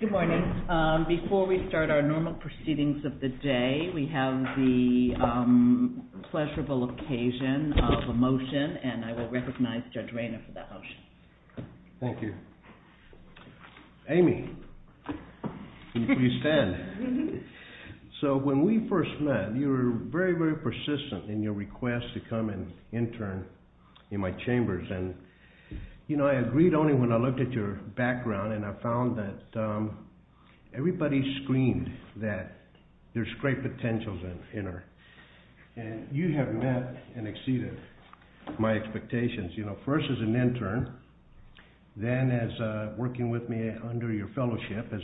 Good morning. Before we start our normal proceedings of the day, we have the pleasurable occasion of a motion, and I will recognize Judge Rayner for that motion. Thank you. Amy, will you stand? So, when we first met, you were very, very persistent in your request to come and intern in my chambers. And, you know, I agreed only when I looked at your background, and I found that everybody screened that there's great potential in her. And you have met and exceeded my expectations, you know, first as an intern, then as working with me under your fellowship as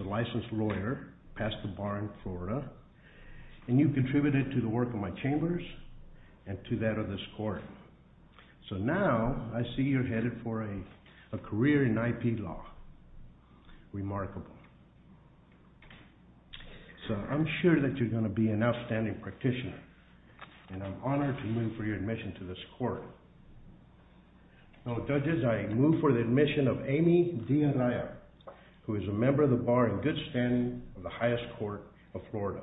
a licensed lawyer past the bar in Florida. And you contributed to the work of my chambers and to that of this court. So now, I see you're headed for a career in IP law. Remarkable. So, I'm sure that you're going to be an outstanding practitioner, and I'm honored to move for your admission to this court. Now, judges, I move for the admission of Amy DeAnaya, who is a member of the bar in good standing of the highest court of Florida.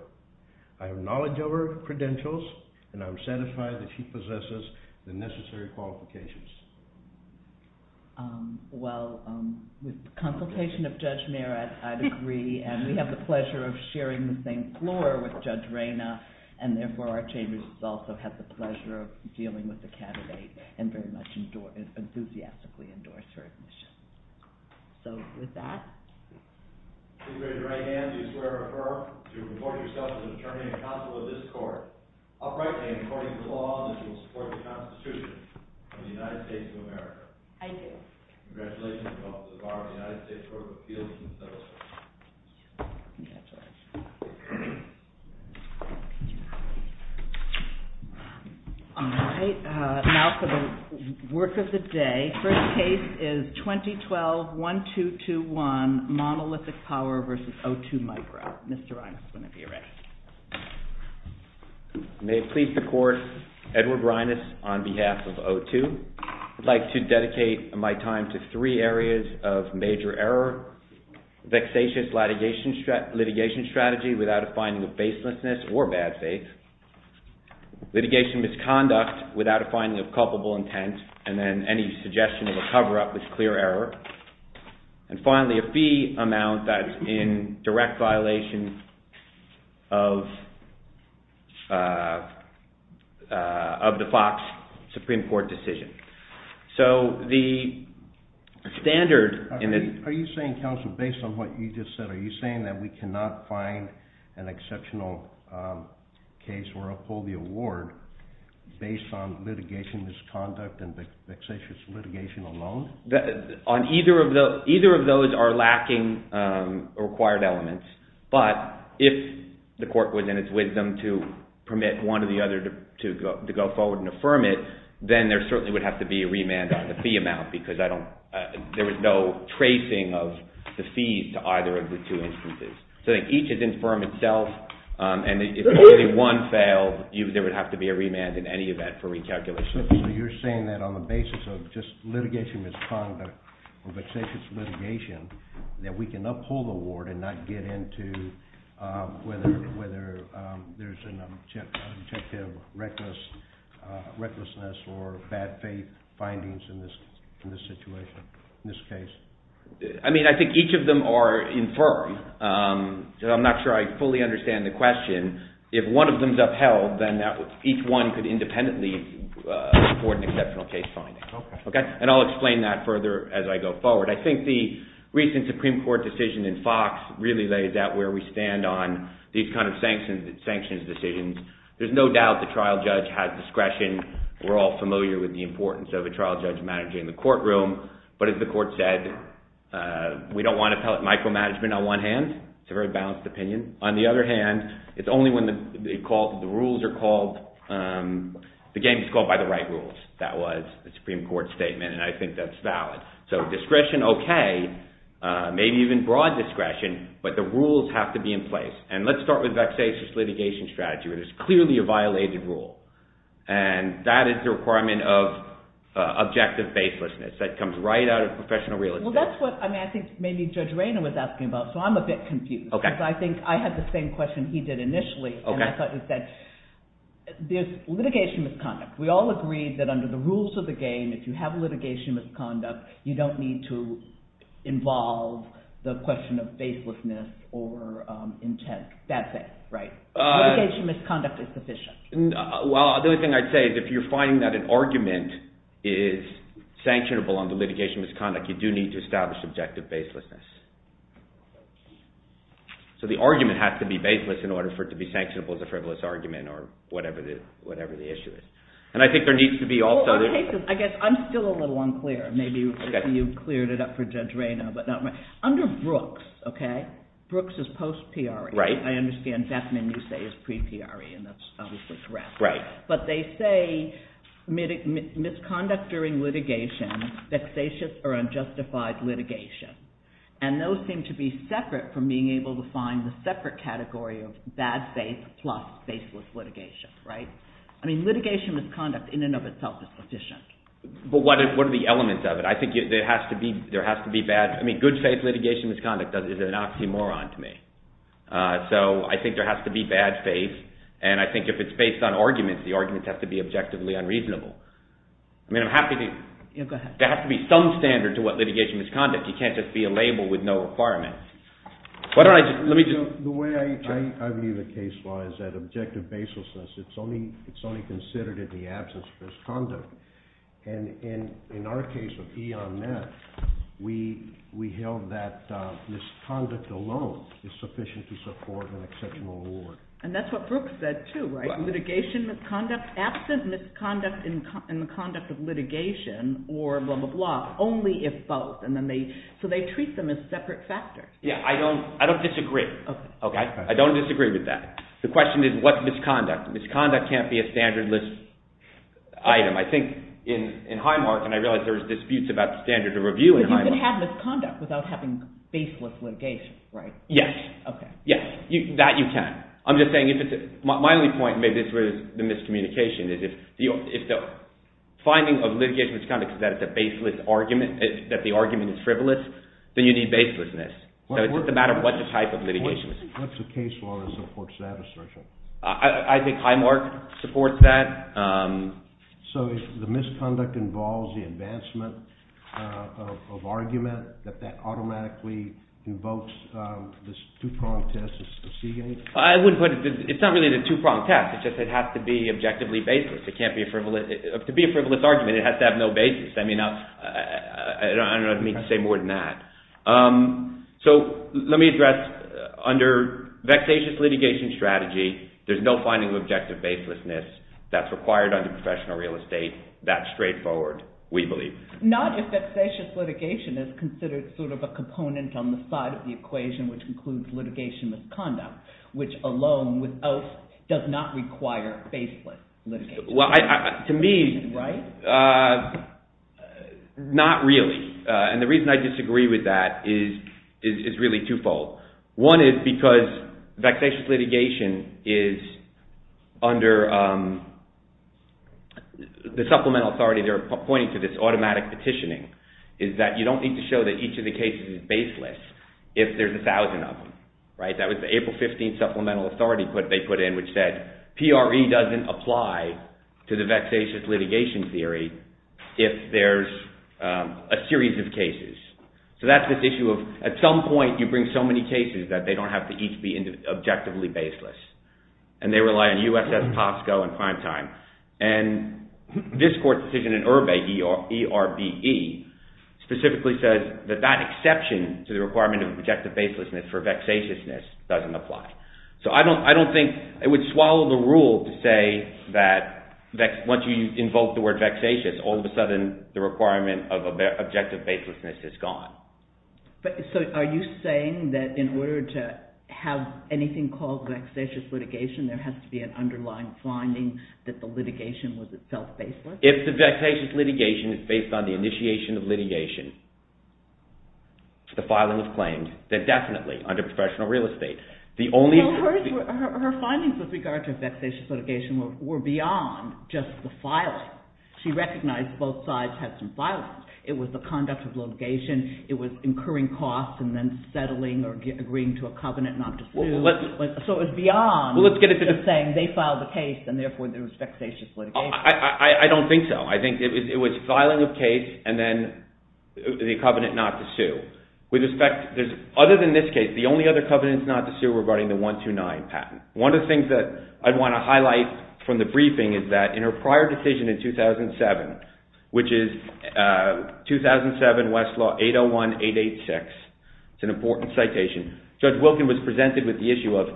I have knowledge of her credentials, and I'm satisfied that she possesses the necessary qualifications. Well, with consultation of Judge Mayer, I'd agree, and we have the pleasure of sharing the same floor with Judge Reyna. And therefore, our chambers also have the pleasure of dealing with the candidate, and very much enthusiastically endorse her admission. So, with that… Please raise your right hand, do you swear or affirm to report yourself to the attorney and counsel of this court, uprightly and according to the law, that you will support the Constitution of the United States of America? I do. Congratulations to both the bar and the United States Court of Appeals. All right, now for the work of the day. First case is 2012-1221, monolithic power versus O2 micro. Mr. Reynas, whenever you're ready. May it please the court, Edward Reynas on behalf of O2. I'd like to dedicate my time to three areas of major error. Vexatious litigation strategy without a finding of baselessness or bad faith. Litigation misconduct without a finding of culpable intent, and then any suggestion of a cover-up is clear error. And finally, a fee amount that's in direct violation of the FOX Supreme Court decision. So, the standard… Are you saying, counsel, based on what you just said, are you saying that we cannot find an exceptional case where I'll pull the award based on litigation misconduct and vexatious litigation alone? Either of those are lacking required elements, but if the court was in its wisdom to permit one or the other to go forward and affirm it, then there certainly would have to be a remand on the fee amount because there was no tracing of the fees to either of the two instances. So, each is in firm itself, and if only one failed, there would have to be a remand in any event for recalculation. So, you're saying that on the basis of just litigation misconduct or vexatious litigation, that we can uphold the award and not get into whether there's an objective recklessness or bad faith findings in this situation, in this case? I mean, I think each of them are in firm. I'm not sure I fully understand the question. If one of them is upheld, then each one could independently afford an exceptional case finding. And I'll explain that further as I go forward. I think the recent Supreme Court decision in Fox really lays out where we stand on these kinds of sanctions decisions. There's no doubt the trial judge has discretion. We're all familiar with the importance of a trial judge managing the courtroom. But as the court said, we don't want to pellet micromanagement on one hand. It's a very balanced opinion. On the other hand, it's only when the rules are called – the game is called by the right rules. That was the Supreme Court statement, and I think that's valid. So, discretion, okay, maybe even broad discretion, but the rules have to be in place. And let's start with vexatious litigation strategy, where there's clearly a violated rule. And that is the requirement of objective faithlessness. That comes right out of professional real estate. Well, that's what I think maybe Judge Raynor was asking about, so I'm a bit confused. I think I had the same question he did initially, and I thought he said there's litigation misconduct. We all agreed that under the rules of the game, if you have litigation misconduct, you don't need to involve the question of faithlessness or intent. That's it, right? Litigation misconduct is sufficient. Well, the only thing I'd say is if you're finding that an argument is sanctionable under litigation misconduct, you do need to establish objective faithlessness. So the argument has to be faithless in order for it to be sanctionable as a frivolous argument or whatever the issue is. And I think there needs to be also – I guess I'm still a little unclear. Maybe you cleared it up for Judge Raynor, but not me. Under Brooks, okay, Brooks is post-PRE. Right. I understand Beckman, you say, is pre-PRE, and that's obviously correct. Right. But they say misconduct during litigation, vexatious or unjustified litigation. And those seem to be separate from being able to find the separate category of bad faith plus faithless litigation, right? I mean, litigation misconduct in and of itself is sufficient. But what are the elements of it? I think there has to be bad – I mean, good faith litigation misconduct is an oxymoron to me. So I think there has to be bad faith, and I think if it's based on arguments, the arguments have to be objectively unreasonable. I mean, I'm happy to – there has to be some standard to what litigation misconduct – you can't just be a label with no requirements. Let me just – The way I view the case law is that objective baselessness, it's only considered in the absence of misconduct. And in our case of E.O.M.M.E.T., we held that misconduct alone is sufficient to support an exceptional award. And that's what Brooks said too, right? Litigation misconduct, absent misconduct in the conduct of litigation or blah, blah, blah, only if both. And then they – so they treat them as separate factors. Yeah, I don't disagree. I don't disagree with that. The question is what's misconduct? Misconduct can't be a standard list item. I think in Highmark – and I realize there's disputes about the standard of review in Highmark. But you can have misconduct without having baseless litigation, right? Yes. Okay. Yes, that you can. I'm just saying if it's – my only point maybe is with the miscommunication is if the finding of litigation misconduct is that it's a baseless argument, that the argument is frivolous, then you need baselessness. So it's a matter of what the type of litigation is. What's the case law that supports that assertion? I think Highmark supports that. So if the misconduct involves the advancement of argument, that that automatically invokes this two-pronged test of Seagate? I wouldn't put it – it's not really the two-pronged test. It's just it has to be objectively baseless. It can't be a – to be a frivolous argument, it has to have no basis. I mean, I don't mean to say more than that. So let me address under vexatious litigation strategy, there's no finding of objective baselessness that's required under professional real estate. That's straightforward, we believe. Nadia, vexatious litigation is considered sort of a component on the side of the equation which includes litigation misconduct, which alone without – does not require baseless litigation. Well, to me – Right? Not really, and the reason I disagree with that is really twofold. One is because vexatious litigation is under the supplemental authority. They're pointing to this automatic petitioning, is that you don't need to show that each of the cases is baseless if there's a thousand of them, right? That was the April 15 supplemental authority they put in which said PRE doesn't apply to the vexatious litigation theory if there's a series of cases. So that's this issue of at some point you bring so many cases that they don't have to each be objectively baseless. And they rely on USS POSCO and primetime. And this court's decision in Erbe, E-R-B-E, specifically says that that exception to the requirement of objective baselessness for vexatiousness doesn't apply. So I don't think – it would swallow the rule to say that once you invoke the word vexatious, all of a sudden the requirement of objective baselessness is gone. So are you saying that in order to have anything called vexatious litigation, there has to be an underlying finding that the litigation was itself baseless? If the vexatious litigation is based on the initiation of litigation, the filing of claims, they're definitely under professional real estate. The only – Her findings with regard to vexatious litigation were beyond just the filing. She recognized both sides had some filings. It was the conduct of litigation. It was incurring costs and then settling or agreeing to a covenant not to sue. So it was beyond just saying they filed the case and therefore there was vexatious litigation. I don't think so. I think it was filing of case and then the covenant not to sue. Other than this case, the only other covenants not to sue were regarding the 129 patent. One of the things that I'd want to highlight from the briefing is that in her prior decision in 2007, which is 2007 Westlaw 801-886. It's an important citation. Judge Wilkin was presented with the issue of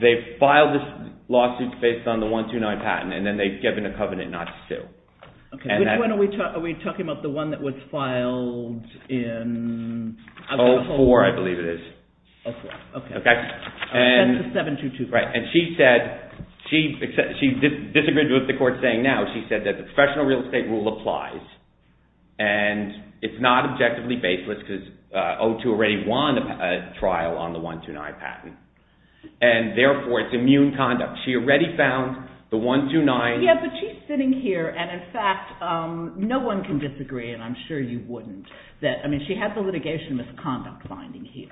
they filed this lawsuit based on the 129 patent and then they've given a covenant not to sue. Which one are we talking about? The one that was filed in – 04, I believe it is. 04, okay. Okay. And that's the 722 patent. Right, and she said – she disagreed with the court saying now. She said that the professional real estate rule applies and it's not objectively baseless because O2 already won a trial on the 129 patent. And therefore, it's immune conduct. She already found the 129 – Yeah, but she's sitting here and, in fact, no one can disagree, and I'm sure you wouldn't. I mean, she had the litigation misconduct finding here.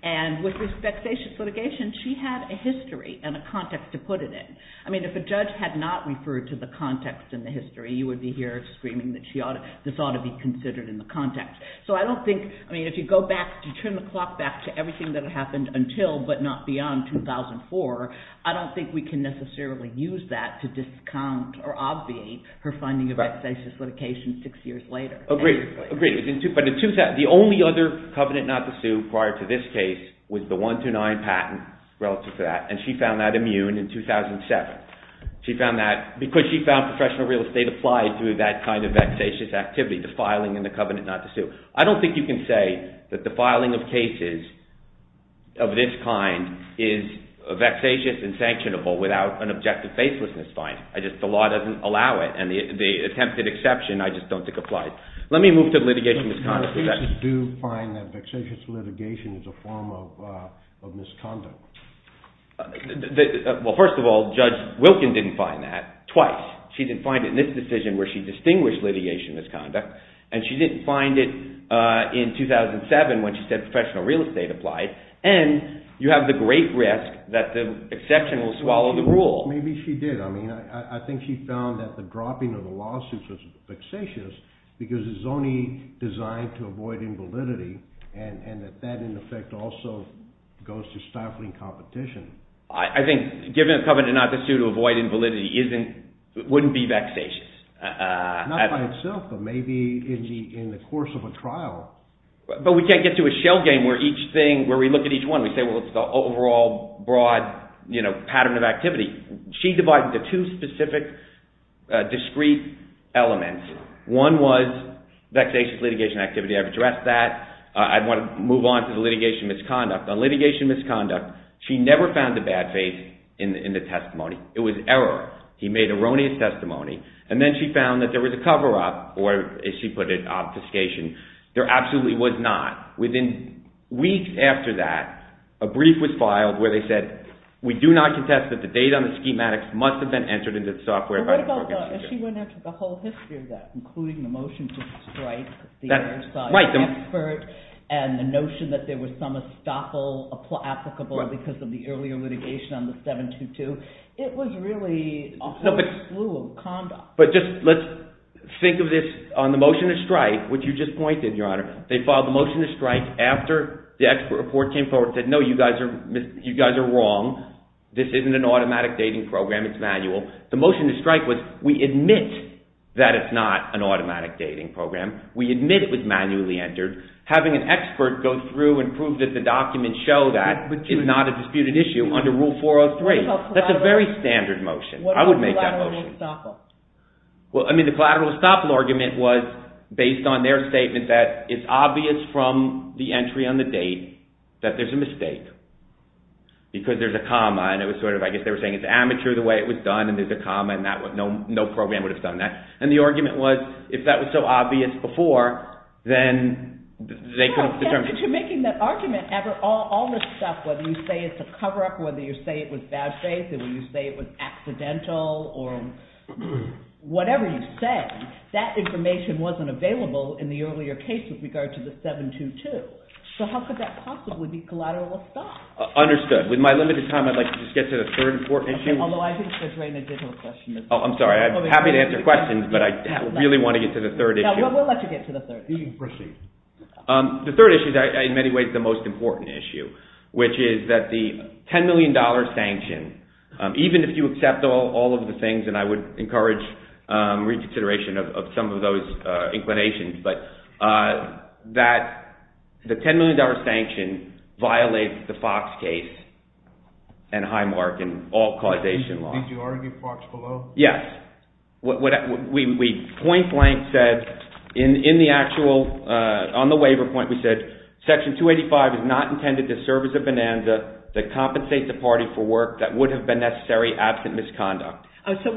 And with this vexatious litigation, she had a history and a context to put it in. I mean, if a judge had not referred to the context and the history, you would be here screaming that this ought to be considered in the context. So I don't think – I mean, if you go back – if you turn the clock back to everything that had happened until but not beyond 2004, I don't think we can necessarily use that to discount or obviate her finding of vexatious litigation six years later. Agreed. Agreed. But the only other covenant not to sue prior to this case was the 129 patent relative to that, and she found that immune in 2007. She found that – because she found professional real estate applied through that kind of vexatious activity, the filing and the covenant not to sue. I don't think you can say that the filing of cases of this kind is vexatious and sanctionable without an objective facelessness finding. I just – the law doesn't allow it, and the attempted exception I just don't think applies. Let me move to litigation misconduct. Do you find that vexatious litigation is a form of misconduct? Well, first of all, Judge Wilkin didn't find that twice. She didn't find it in this decision where she distinguished litigation misconduct, and she didn't find it in 2007 when she said professional real estate applied, and you have the great risk that the exception will swallow the rule. Maybe she did. I mean, I think she found that the dropping of the lawsuit was vexatious because it's only designed to avoid invalidity, and that that, in effect, also goes to stifling competition. I think giving a covenant not to sue to avoid invalidity isn't – wouldn't be vexatious. Not by itself, but maybe in the course of a trial. But we can't get to a shell game where each thing – where we look at each one. We say, well, it's the overall broad pattern of activity. She divided the two specific discrete elements. One was vexatious litigation activity. I've addressed that. I want to move on to the litigation misconduct. On litigation misconduct, she never found the bad faith in the testimony. It was error. He made erroneous testimony, and then she found that there was a cover-up, or as she put it, obfuscation. There absolutely was not. Within weeks after that, a brief was filed where they said, we do not contest that the data on the schematics must have been entered into the software by the prosecutor. But what about the – she went into the whole history of that, including the motion to strike the other side of the expert and the notion that there was some estoppel applicable because of the earlier litigation on the 722. It was really a whole slew of conduct. But just let's think of this on the motion to strike, which you just pointed, Your Honor. They filed the motion to strike after the expert report came forward and said, no, you guys are wrong. This isn't an automatic dating program. It's manual. The motion to strike was we admit that it's not an automatic dating program. We admit it was manually entered. Having an expert go through and prove that the documents show that is not a disputed issue under Rule 403. That's a very standard motion. I would make that motion. What about the collateral estoppel? Well, I mean the collateral estoppel argument was based on their statement that it's obvious from the entry on the date that there's a mistake because there's a comma. And it was sort of – I guess they were saying it's amateur the way it was done and there's a comma and no program would have done that. And the argument was if that was so obvious before, then they could have determined – To making that argument, all this stuff, whether you say it's a cover-up, whether you say it was bad faith, whether you say it was accidental or whatever you said, that information wasn't available in the earlier case with regard to the 722. So how could that possibly be collateral estoppel? Understood. With my limited time, I'd like to just get to the third and fourth issue. Although I think there's already an additional question. Oh, I'm sorry. I'm happy to answer questions, but I really want to get to the third issue. We'll let you get to the third issue. You can proceed. The third issue is in many ways the most important issue, which is that the $10 million sanction, even if you accept all of the things, and I would encourage reconsideration of some of those inclinations, but that the $10 million sanction violates the Fox case and Highmark and all causation laws. Did you argue Fox below? Yes. Point blank said, on the waiver point, we said, Section 285 is not intended to serve as a bonanza to compensate the party for work that would have been necessary absent misconduct. So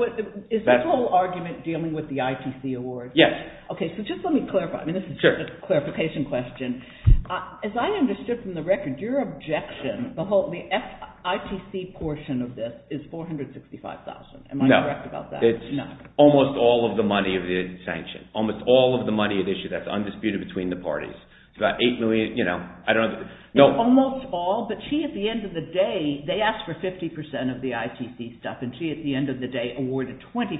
is this whole argument dealing with the ITC award? Yes. Okay, so just let me clarify. This is just a clarification question. As I understood from the record, your objection, the ITC portion of this is $465,000. Am I correct about that? No. Almost all of the money of the sanction. Almost all of the money of the issue that's undisputed between the parties. It's about $8 million. Almost all, but she, at the end of the day, they asked for 50% of the ITC stuff, and she, at the end of the day, awarded 25%.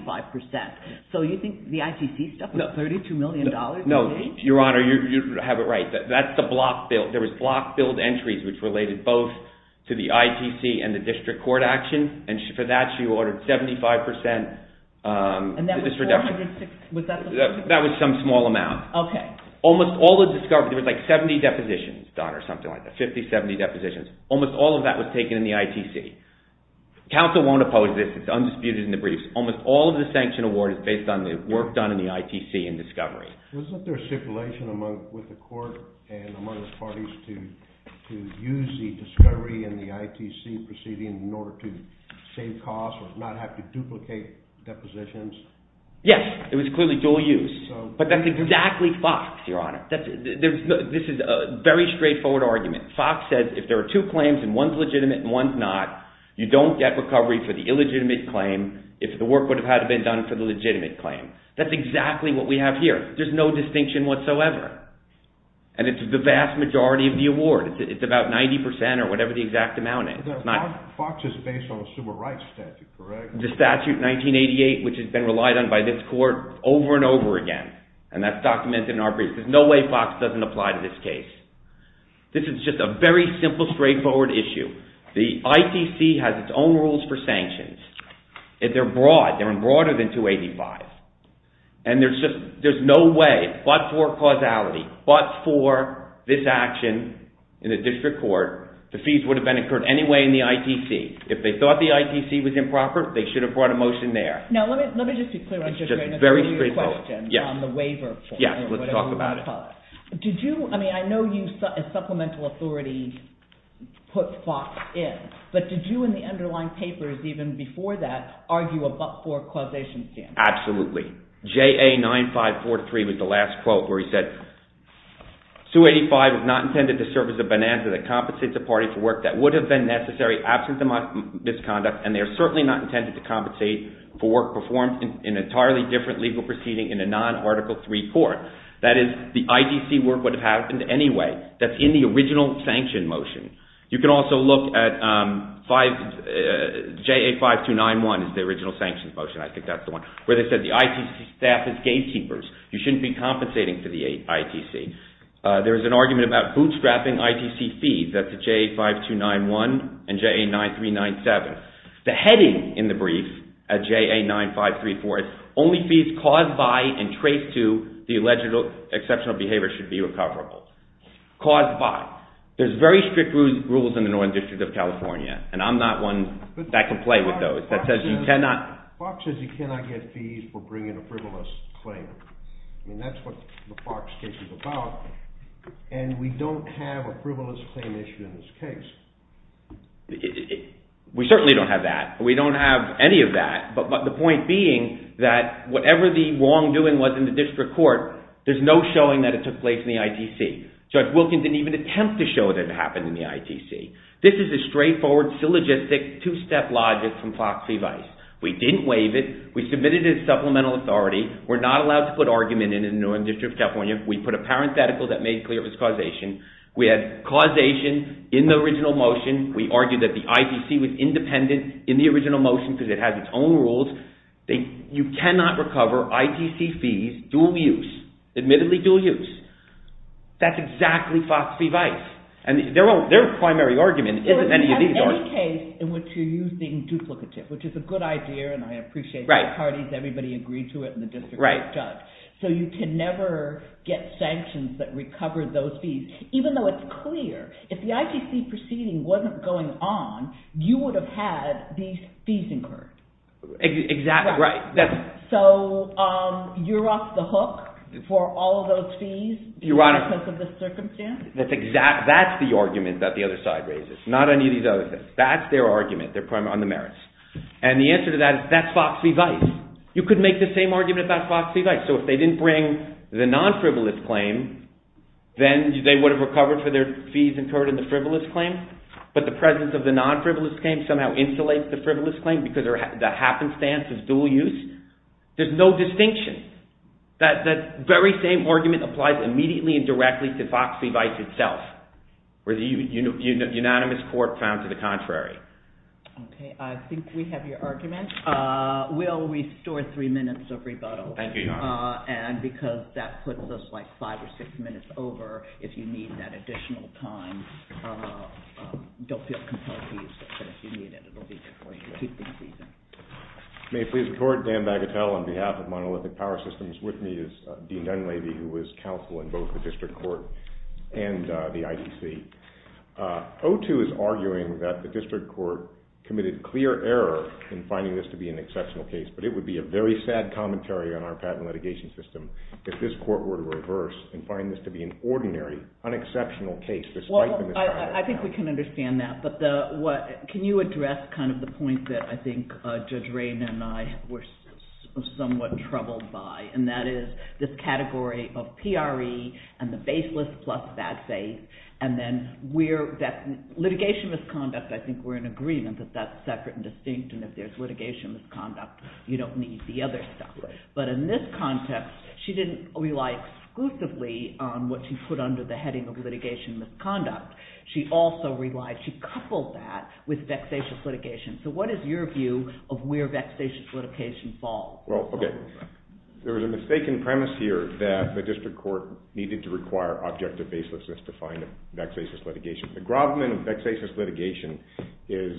So you think the ITC stuff was $32 million? No, Your Honor, you have it right. That's the block bill. There was block billed entries which related both to the ITC and the district court action, and for that she ordered 75% of this reduction. And that was $406,000? That was some small amount. Okay. Almost all of the discovery, there was like 70 depositions, Your Honor, something like that, 50, 70 depositions. Almost all of that was taken in the ITC. Counsel won't oppose this. It's undisputed in the briefs. Almost all of the sanction award is based on the work done in the ITC in discovery. Wasn't there stipulation with the court and among the parties to use the discovery and the ITC proceeding in order to save costs or not have to duplicate depositions? Yes, it was clearly dual use. But that's exactly Fox, Your Honor. This is a very straightforward argument. Fox said if there are two claims and one's legitimate and one's not, you don't get recovery for the illegitimate claim if the work would have had to be done for the legitimate claim. That's exactly what we have here. There's no distinction whatsoever. And it's the vast majority of the award. It's about 90% or whatever the exact amount is. Fox is based on a civil rights statute, correct? The statute, 1988, which has been relied on by this court over and over again. And that's documented in our briefs. There's no way Fox doesn't apply to this case. This is just a very simple, straightforward issue. The ITC has its own rules for sanctions. They're broad. They're broader than 285. And there's no way, but for causality, but for this action in a district court, the fees would have been incurred anyway in the ITC. If they thought the ITC was improper, they should have brought a motion there. Now, let me just be clear on just one of your questions on the waiver. Yes, let's talk about it. I mean, I know you, as supplemental authority, put Fox in. But did you, in the underlying papers even before that, argue a but-for causation standard? Absolutely. JA9543 was the last quote where he said, 285 is not intended to serve as a bonanza that compensates a party for work that would have been necessary, absent the misconduct, and they are certainly not intended to compensate for work performed in an entirely different legal proceeding in a non-Article 3 court. That is, the ITC work would have happened anyway. That's in the original sanction motion. You can also look at JA5291 is the original sanction motion. I think that's the one where they said the ITC staff is gatekeepers. You shouldn't be compensating for the ITC. There is an argument about bootstrapping ITC fees. That's at JA5291 and JA9397. The heading in the brief at JA9534 is, only fees caused by and traced to the alleged exceptional behavior should be recoverable. Caused by. There's very strict rules in the Northern District of California, and I'm not one that can play with those. Fox says you cannot get fees for bringing a frivolous claim. That's what the Fox case is about, and we don't have a frivolous claim issue in this case. We certainly don't have that. We don't have any of that. But the point being that whatever the wrongdoing was in the district court, there's no showing that it took place in the ITC. Judge Wilkins didn't even attempt to show that it happened in the ITC. This is a straightforward, syllogistic, two-step logic from Fox v. Vice. We didn't waive it. We submitted it as supplemental authority. We're not allowed to put argument in in the Northern District of California. We put a parenthetical that made clear it was causation. We had causation in the original motion. We argued that the ITC was independent in the original motion because it has its own rules. You cannot recover ITC fees, dual use. Admittedly, dual use. That's exactly Fox v. Vice. Their primary argument isn't any of these arguments. In any case in which you're using duplicative, which is a good idea, and I appreciate both parties. Everybody agreed to it in the district court. So you can never get sanctions that recover those fees. Even though it's clear, if the ITC proceeding wasn't going on, you would have had these fees incurred. Exactly right. So you're off the hook for all of those fees because of this circumstance? That's the argument that the other side raises. Not any of these other things. That's their argument on the merits. And the answer to that is that's Fox v. Vice. You could make the same argument about Fox v. Vice. So if they didn't bring the non-frivolous claim, then they would have recovered for their fees incurred in the frivolous claim. But the presence of the non-frivolous claim somehow insulates the frivolous claim because the happenstance is dual use. There's no distinction. That very same argument applies immediately and directly to Fox v. Vice itself, where the unanimous court found to the contrary. Okay. I think we have your argument. We'll restore three minutes of rebuttal. Thank you, Your Honor. And because that puts us like five or six minutes over, if you need that additional time, don't feel compelled to use it. But if you need it, it will be there for you to keep the season. May it please the Court, Dan Bagatelle on behalf of Monolithic Power Systems. With me is Dean Dunleavy, who is counsel in both the district court and the IDC. O2 is arguing that the district court committed clear error in finding this to be an exceptional case, but it would be a very sad commentary on our patent litigation system if this court were to reverse and find this to be an ordinary, unexceptional case despite the materiality of it. Well, I think we can understand that. Can you address kind of the point that I think Judge Rayn and I were somewhat troubled by, and that is this category of PRE and the baseless plus bad faith, and then litigation misconduct, I think we're in agreement that that's separate and distinct, and if there's litigation misconduct, you don't need the other stuff. But in this context, she didn't rely exclusively on what she put under the heading of litigation misconduct. She also relied, she coupled that with vexatious litigation. So what is your view of where vexatious litigation falls? Well, okay, there was a mistaken premise here that the district court needed to require objective baselessness to find a vexatious litigation. The Grobman of vexatious litigation is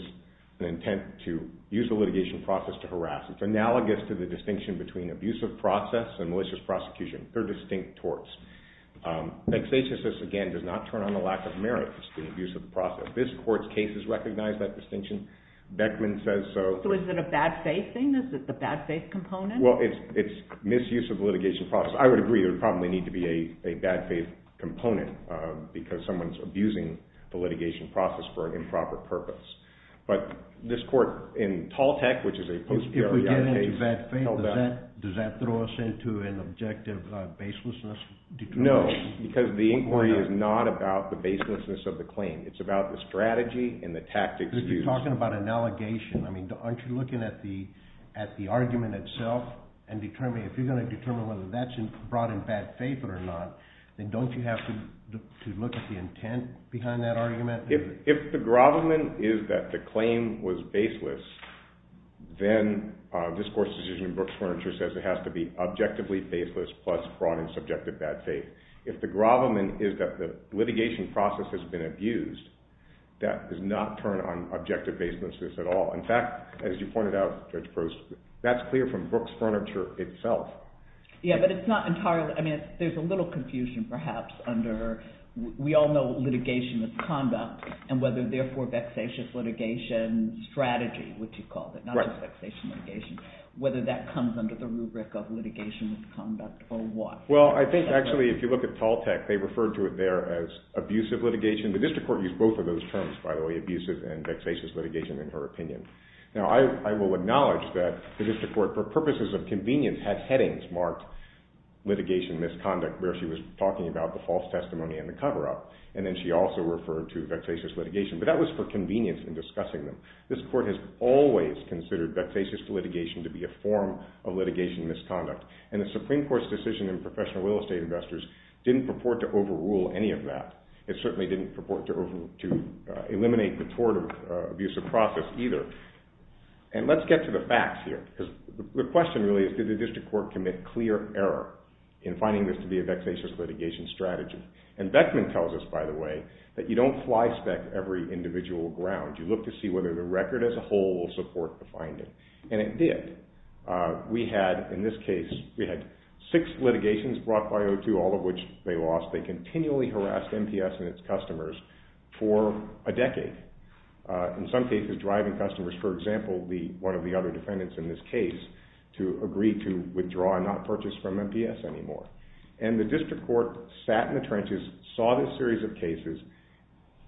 an intent to use the litigation process to harass. It's analogous to the distinction between abusive process and malicious prosecution. They're distinct torts. Vexatiousness, again, does not turn on the lack of merit to student abuse of the process. This court's case has recognized that distinction. Beckman says so. So is it a bad faith thing? Is it the bad faith component? Well, it's misuse of litigation process. I would agree there would probably need to be a bad faith component because someone's abusing the litigation process for an improper purpose. But this court in Tall Tech, which is a post-BRI case, held that. If we get into bad faith, does that throw us into an objective baselessness? No, because the inquiry is not about the baselessness of the claim. It's about the strategy and the tactics used. You're talking about an allegation. I mean, aren't you looking at the argument itself and determining if you're going to determine whether that's brought in bad faith or not, then don't you have to look at the intent behind that argument? If the Grobman is that the claim was baseless, then this court's decision in Brooks Furniture says it has to be objectively baseless plus brought in subjective bad faith. If the Grobman is that the litigation process has been abused, that does not turn on objective baselessness at all. In fact, as you pointed out, Judge Prost, that's clear from Brooks Furniture itself. Yeah, but it's not entirely. I mean, there's a little confusion perhaps under we all know litigation is conduct and whether therefore vexatious litigation strategy, which you called it, not just vexation litigation, whether that comes under the rubric of litigation with conduct or what? Well, I think actually if you look at Tall Tech, they referred to it there as abusive litigation. The district court used both of those terms, by the way, abusive and vexatious litigation in her opinion. Now, I will acknowledge that the district court, for purposes of convenience, had headings marked litigation misconduct where she was talking about the false testimony and the cover-up and then she also referred to vexatious litigation, but that was for convenience in discussing them. This court has always considered vexatious litigation to be a form of litigation misconduct and the Supreme Court's decision in professional real estate investors didn't purport to overrule any of that. It certainly didn't purport to eliminate the tort of abusive process either. And let's get to the facts here because the question really is did the district court commit clear error in finding this to be a vexatious litigation strategy? And Beckman tells us, by the way, that you don't fly spec every individual ground. You look to see whether the record as a whole will support the finding. And it did. We had, in this case, we had six litigations brought by O2, all of which they lost. They continually harassed MPS and its customers for a decade, in some cases driving customers, for example, one of the other defendants in this case, to agree to withdraw and not purchase from MPS anymore. And the district court sat in the trenches, saw this series of cases,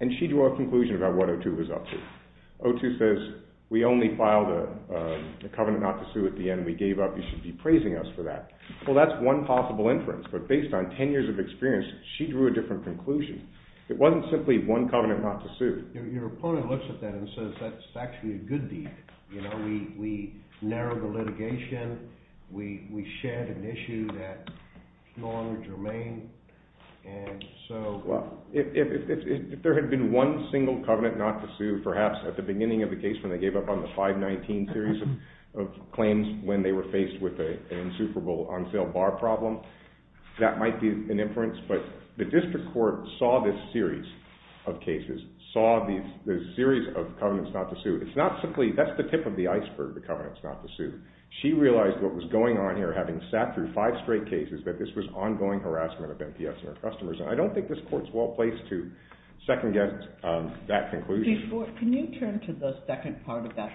and she drew a conclusion about what O2 was up to. O2 says we only filed a covenant not to sue at the end. We gave up. You should be praising us for that. Well, that's one possible inference. But based on 10 years of experience, she drew a different conclusion. It wasn't simply one covenant not to sue. Your opponent looks at that and says that's actually a good deed. We narrowed the litigation. We shared an issue that's non-germane. If there had been one single covenant not to sue, perhaps at the beginning of the case, when they gave up on the 519 series of claims when they were faced with an insuperable on-sale bar problem, that might be an inference. But the district court saw this series of cases, saw the series of covenants not to sue. That's the tip of the iceberg, the covenants not to sue. She realized what was going on here, having sat through five straight cases, that this was ongoing harassment of NPS and her customers. I don't think this court is well-placed to second-guess that conclusion. Can you turn to the second part of that,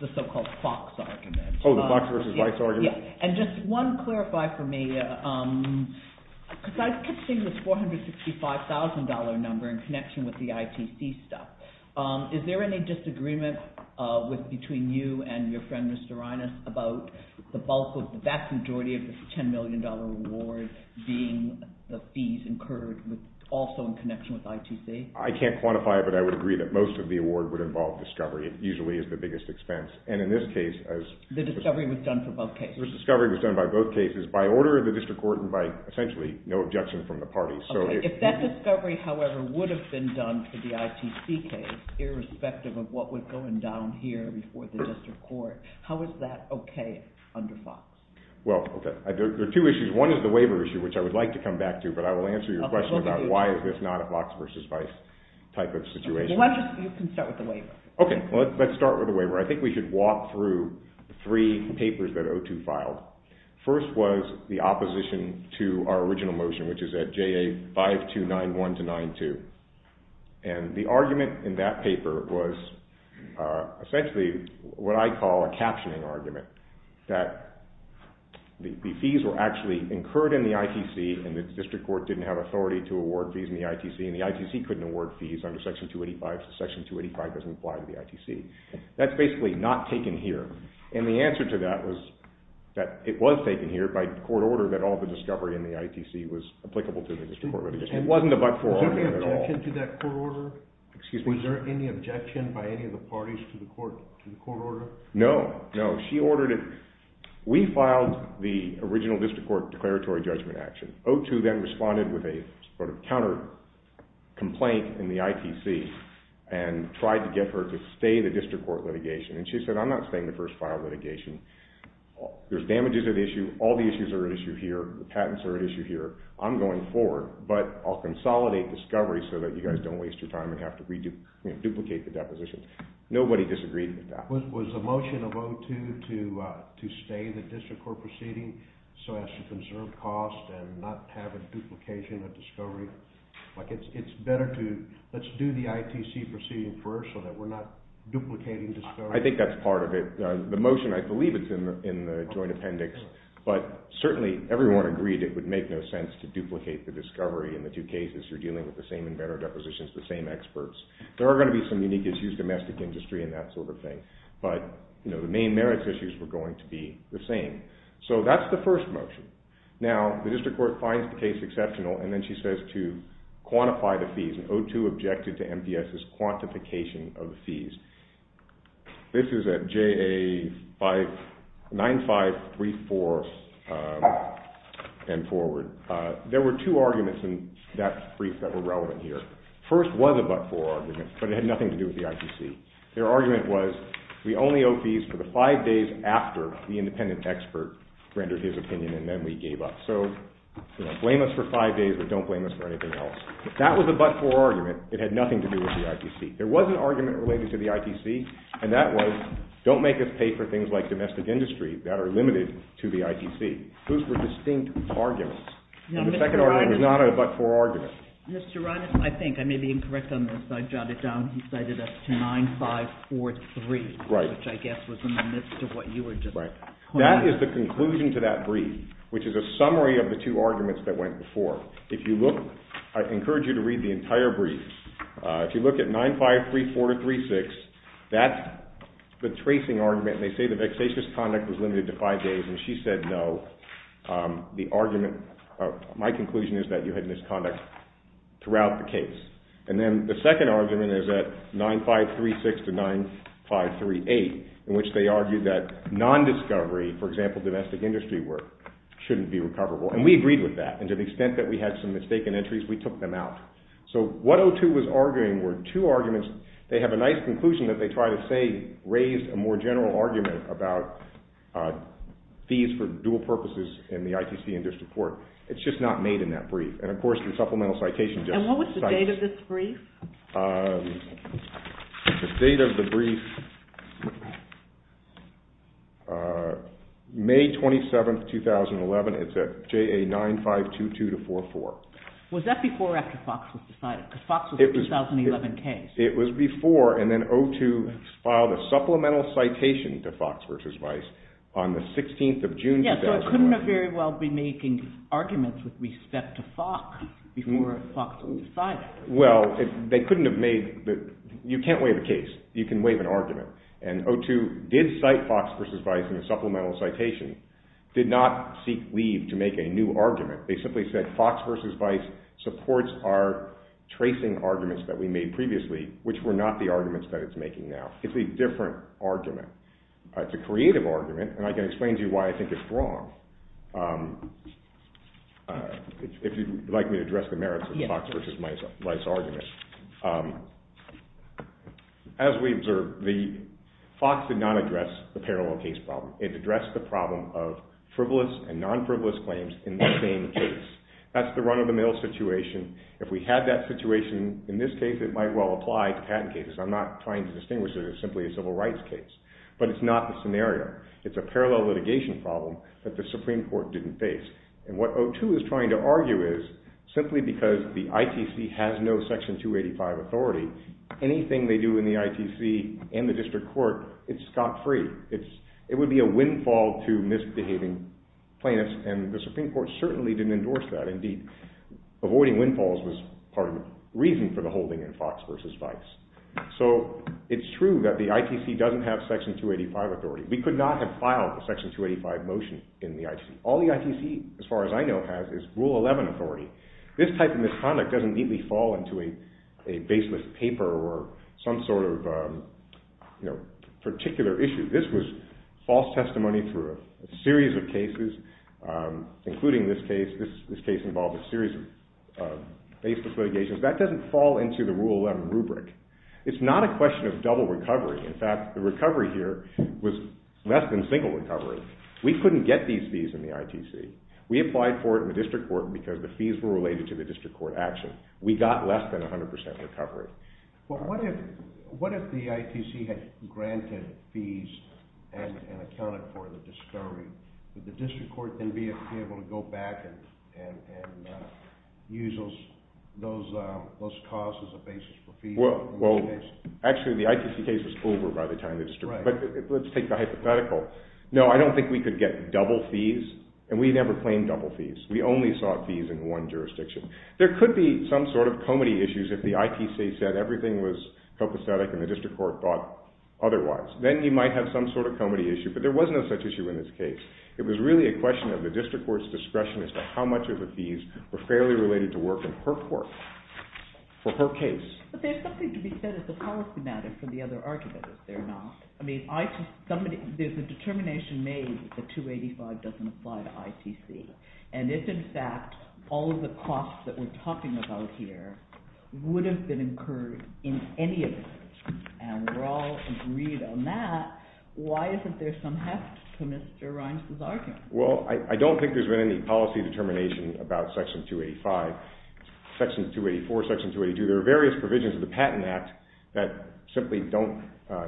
the so-called Fox argument? Oh, the Fox v. Weiss argument? Yes, and just one clarify for me, because I've kept seeing this $465,000 number in connection with the ITC stuff. Is there any disagreement between you and your friend Mr. Reines about the bulk, the vast majority of this $10 million reward being the fees incurred also in connection with ITC? I can't quantify it, but I would agree that most of the award would involve discovery. It usually is the biggest expense. The discovery was done for both cases? The discovery was done by both cases, by order of the district court and by, essentially, no objection from the parties. If that discovery, however, would have been done for the ITC case, irrespective of what was going down here before the district court, how is that okay under Fox? Well, there are two issues. One is the waiver issue, which I would like to come back to, but I will answer your question about why is this not a Fox v. Weiss type of situation. You can start with the waiver. Okay, let's start with the waiver. I think we should walk through three papers that O2 filed. First was the opposition to our original motion, which is at JA 5291-92. And the argument in that paper was, essentially, what I call a captioning argument, that the fees were actually incurred in the ITC and the district court didn't have authority to award fees in the ITC, and the ITC couldn't award fees under Section 285 because Section 285 doesn't apply to the ITC. That's basically not taken here. And the answer to that was that it was taken here by court order that all the discovery in the ITC was applicable to the district court. It wasn't a buck four argument at all. Was there any objection to that court order? Excuse me? Was there any objection by any of the parties to the court order? No, no, she ordered it. We filed the original district court declaratory judgment action. O2 then responded with a sort of counter-complaint in the ITC and tried to get her to stay the district court litigation. And she said, I'm not staying the first file litigation. There's damages at issue. All the issues are at issue here. The patents are at issue here. I'm going forward, but I'll consolidate discovery so that you guys don't waste your time and have to duplicate the depositions. Nobody disagreed with that. Was the motion of O2 to stay the district court proceeding so as to conserve cost and not have a duplication of discovery? Like it's better to let's do the ITC proceeding first so that we're not duplicating discovery? I think that's part of it. The motion, I believe it's in the joint appendix. But certainly everyone agreed it would make no sense to duplicate the discovery in the two cases. You're dealing with the same inventor depositions, the same experts. There are going to be some unique issues, domestic industry and that sort of thing. But the main merits issues were going to be the same. So that's the first motion. Now the district court finds the case exceptional and then she says to quantify the fees. And O2 objected to MPS's quantification of the fees. This is at JA9534 and forward. There were two arguments in that brief that were relevant here. First was a but-for argument but it had nothing to do with the ITC. Their argument was we only owe fees for the five days after the independent expert rendered his opinion and then we gave up. So blame us for five days but don't blame us for anything else. That was a but-for argument. It had nothing to do with the ITC. There was an argument related to the ITC and that was don't make us pay for things like domestic industry that are limited to the ITC. Those were distinct arguments. The second argument was not a but-for argument. Mr. Rodin, I think I may be incorrect on this. I jot it down. He cited us to 9543 which I guess was in the midst of what you were just pointing out. That is the conclusion to that brief which is a summary of the two arguments that went before. If you look, I encourage you to read the entire brief. If you look at 9534-36, that's the tracing argument and they say the vexatious conduct was limited to five days and she said no. The argument, my conclusion is that you had misconduct throughout the case. And then the second argument is at 9536-9538 in which they argued that non-discovery, for example domestic industry work, shouldn't be recoverable and we agreed with that and to the extent that we had some mistaken entries, we took them out. So what O2 was arguing were two arguments. They have a nice conclusion that they try to say that O2 raised a more general argument about fees for dual purposes in the ITC and district court. It's just not made in that brief. And of course the supplemental citation just cites it. And what was the date of this brief? The date of the brief, May 27, 2011. It's at JA 9522-44. Was that before or after FOX was decided? Because FOX was a 2011 case. It was before and then O2 filed a supplemental citation to FOX v. Vice on the 16th of June 2011. Yes, so it couldn't have very well been making arguments with respect to FOX before FOX was decided. Well, they couldn't have made, you can't waive a case. You can waive an argument. And O2 did cite FOX v. Vice in the supplemental citation, did not seek leave to make a new argument. They simply said FOX v. Vice supports our tracing arguments that we made previously, which were not the arguments that it's making now. It's a different argument. It's a creative argument, and I can explain to you why I think it's wrong. If you'd like me to address the merits of the FOX v. Vice argument. As we observed, FOX did not address the parallel case problem. It addressed the problem of frivolous and non-frivolous claims in the same case. That's the run-of-the-mill situation. If we had that situation in this case, it might well apply to patent cases. I'm not trying to distinguish it as simply a civil rights case. But it's not the scenario. It's a parallel litigation problem that the Supreme Court didn't face. And what O2 is trying to argue is, simply because the ITC has no Section 285 authority, anything they do in the ITC and the district court, it's scot-free. It would be a windfall to misbehaving plaintiffs, and the Supreme Court certainly didn't endorse that. Indeed, avoiding windfalls was part of the reason for the holding in FOX v. Vice. So it's true that the ITC doesn't have Section 285 authority. We could not have filed a Section 285 motion in the ITC. All the ITC, as far as I know, has is Rule 11 authority. This type of misconduct doesn't neatly fall into a baseless paper or some sort of particular issue. This was false testimony through a series of cases, including this case. This case involved a series of baseless litigations. That doesn't fall into the Rule 11 rubric. It's not a question of double recovery. In fact, the recovery here was less than single recovery. We couldn't get these fees in the ITC. We applied for it in the district court because the fees were related to the district court action. We got less than 100% recovery. Well, what if the ITC had granted fees and accounted for the discovery? Would the district court then be able to go back and use those costs as a basis for fees? Well, actually, the ITC case was over by the time the discovery. But let's take the hypothetical. No, I don't think we could get double fees, and we never claimed double fees. We only sought fees in one jurisdiction. There could be some sort of comity issues if the ITC said everything was copacetic and the district court thought otherwise. Then you might have some sort of comity issue, but there was no such issue in this case. It was really a question of the district court's discretion as to how much of the fees were fairly related to work in her court for her case. But there's something to be said as a policy matter for the other argument, is there not? I mean, there's a determination made that 285 doesn't apply to ITC. And if, in fact, all of the costs that we're talking about here would have been incurred in any of this, and we're all agreed on that, why isn't there some heft to Mr. Reins' argument? Well, I don't think there's been any policy determination about Section 285, Section 284, Section 282. There are various provisions of the Patent Act that simply don't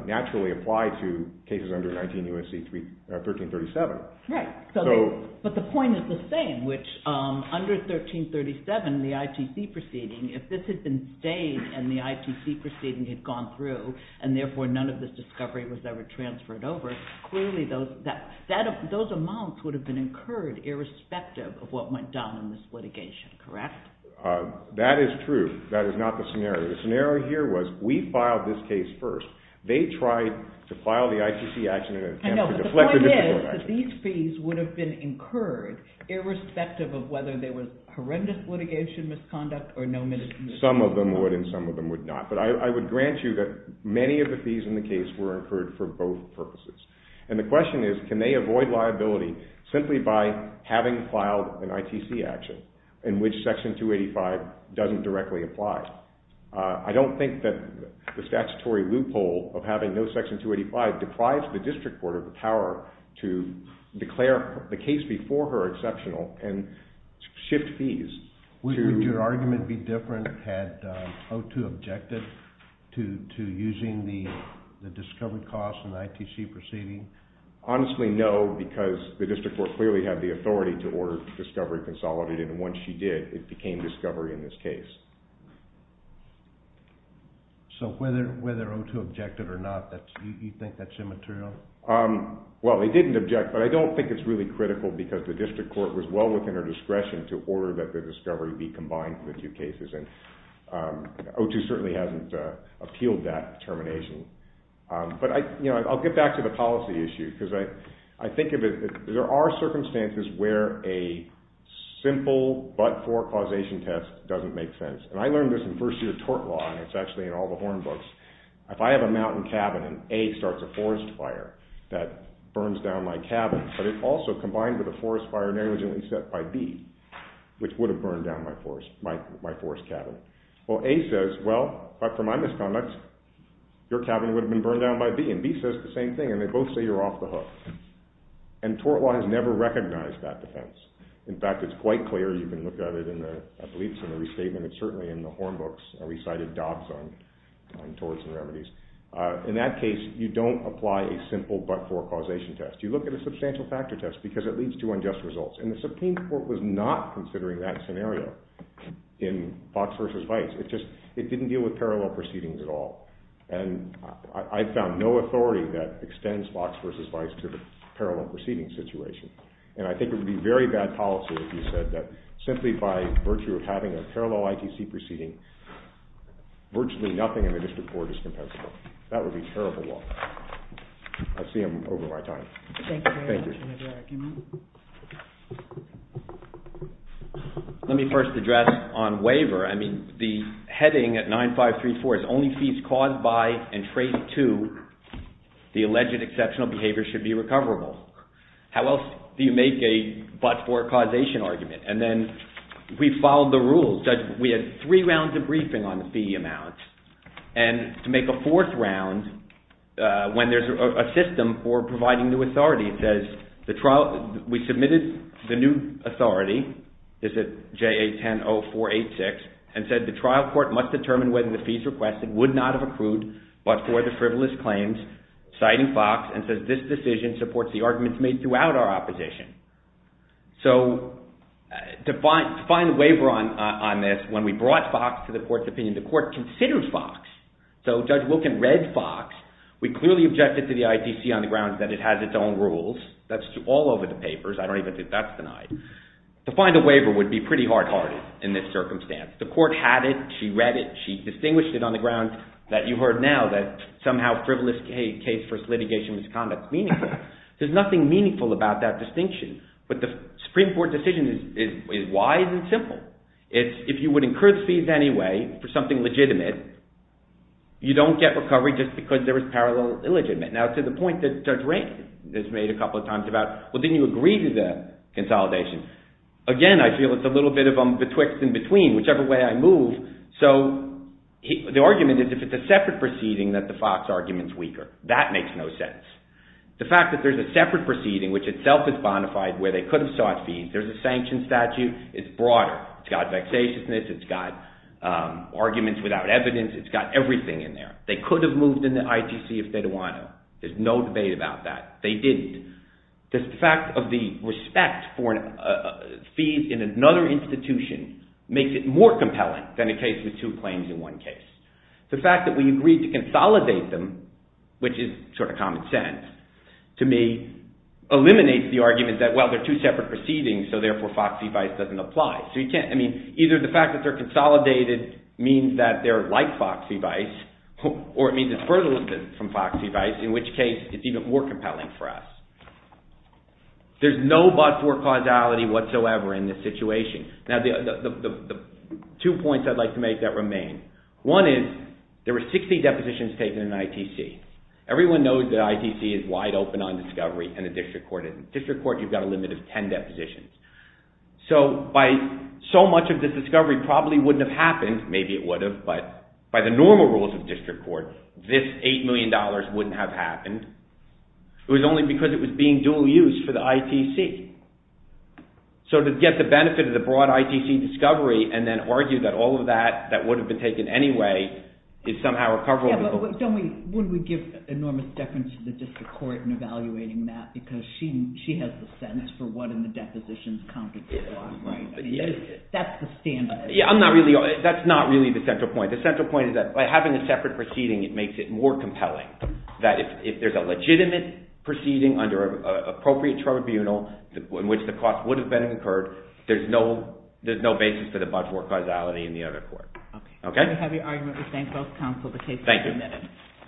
naturally apply to cases under 19 U.S.C. 1337. Right. But the point is the same, which under 1337, the ITC proceeding, if this had been stayed and the ITC proceeding had gone through and therefore none of this discovery was ever transferred over, clearly those amounts would have been incurred irrespective of what went down in this litigation, correct? That is true. That is not the scenario. The scenario here was we filed this case first. They tried to file the ITC action in an attempt to deflect the dispute action. I know, but the point is that these fees would have been incurred irrespective of whether there was horrendous litigation misconduct or no misconduct. Some of them would and some of them would not. But I would grant you that many of the fees in the case were incurred for both purposes. And the question is, can they avoid liability simply by having filed an ITC action in which Section 285 doesn't directly apply? I don't think that the statutory loophole of having no Section 285 deprives the District Court of the power to declare the case before her exceptional and shift fees. Would your argument be different had O2 objected to using the discovery costs in the ITC proceeding? Honestly, no, because the District Court clearly had the authority to order discovery consolidated, and once she did, it became discovery in this case. So whether O2 objected or not, you think that's immaterial? Well, they didn't object, but I don't think it's really critical because the District Court was well within her discretion to order that the discovery be combined with the two cases. And O2 certainly hasn't appealed that termination. But I'll get back to the policy issue because I think there are circumstances where a simple but-for causation test doesn't make sense. And I learned this in first-year tort law, and it's actually in all the Horn books. If I have a mountain cabin and A starts a forest fire that burns down my cabin, but it's also combined with a forest fire negligently set by B, which would have burned down my forest cabin. Well, A says, well, but for my misconduct, your cabin would have been burned down by B. And B says the same thing, and they both say you're off the hook. And tort law has never recognized that defense. In fact, it's quite clear. You can look at it in the beliefs in the restatement and certainly in the Horn books recited dobs on torts and remedies. In that case, you don't apply a simple but-for causation test. You look at a substantial factor test because it leads to unjust results. And the Supreme Court was not considering that scenario in Fox versus Vice. It just didn't deal with parallel proceedings at all. And I found no authority that extends Fox versus Vice to the parallel proceeding situation. And I think it would be very bad policy if you said that simply by virtue of having a parallel ITC proceeding, virtually nothing in the district court is compensable. That would be terrible law. I see I'm over my time. Let me first address on waiver. I mean, the heading at 9534 is only fees caused by and trade to the alleged exceptional behavior should be recoverable. How else do you make a but-for causation argument? And then we followed the rules. We had three rounds of briefing on the fee amounts. And to make a fourth round, when there's a system for providing new authority, it says, we submitted the new authority, is it JA-10-0486, and said the trial court must determine whether the fees requested would not have accrued but for the frivolous claims, citing Fox, and says this decision supports the arguments made throughout our opposition. So to find a waiver on this, when we brought Fox to the court's opinion, the court considered Fox. So Judge Wilkin read Fox. We clearly objected to the ITC on the grounds that it has its own rules. That's all over the papers. I don't even think that's denied. To find a waiver would be pretty hard-hearted in this circumstance. The court had it. She read it. She distinguished it on the grounds that you heard now, that somehow frivolous case versus litigation misconduct is meaningful. There's nothing meaningful about that distinction. But the Supreme Court decision is wise and simple. If you would incur fees anyway for something legitimate, you don't get recovery just because there is parallel illegitimate. Now to the point that Judge Rankin has made a couple of times about, well, didn't you agree to the consolidation? Again, I feel it's a little bit of a betwixt and between, whichever way I move. So the argument is if it's a separate proceeding that the Fox argument is weaker. That makes no sense. The fact that there's a separate proceeding, which itself is bona fide, where they could have sought fees. There's a sanction statute. It's broader. It's got vexatiousness. It's got arguments without evidence. It's got everything in there. They could have moved in the ITC if they'd want to. There's no debate about that. They didn't. The fact of the respect for fees in another institution makes it more compelling than a case with two claims in one case. The fact that we agreed to consolidate them, which is sort of common sense, to me eliminates the argument that, well, they're two separate proceedings, so therefore Foxy Vice doesn't apply. Either the fact that they're consolidated means that they're like Foxy Vice or it means it's further distant from Foxy Vice, in which case it's even more compelling for us. There's no but-for causality whatsoever in this situation. One is there were 60 depositions taken in ITC. Everyone knows that ITC is wide open on discovery and the district court isn't. District court, you've got a limit of 10 depositions. So by so much of the discovery probably wouldn't have happened. Maybe it would have, but by the normal rules of district court, this $8 million wouldn't have happened. It was only because it was being dual-use for the ITC. So to get the benefit of the broad ITC discovery and then argue that all of that, that would have been taken anyway, is somehow a cover-up. Yeah, but don't we-wouldn't we give enormous deference to the district court in evaluating that because she has the sense for what in the depositions counted as fraud, right? I mean, that's the standard. Yeah, I'm not really-that's not really the central point. The central point is that by having a separate proceeding, it makes it more compelling. That if there's a legitimate proceeding under an appropriate tribunal in which the cost would have been incurred, there's no basis for the budget work causality in the other court. Okay. We have your argument. We thank both counsel. The case is amended. Thank you.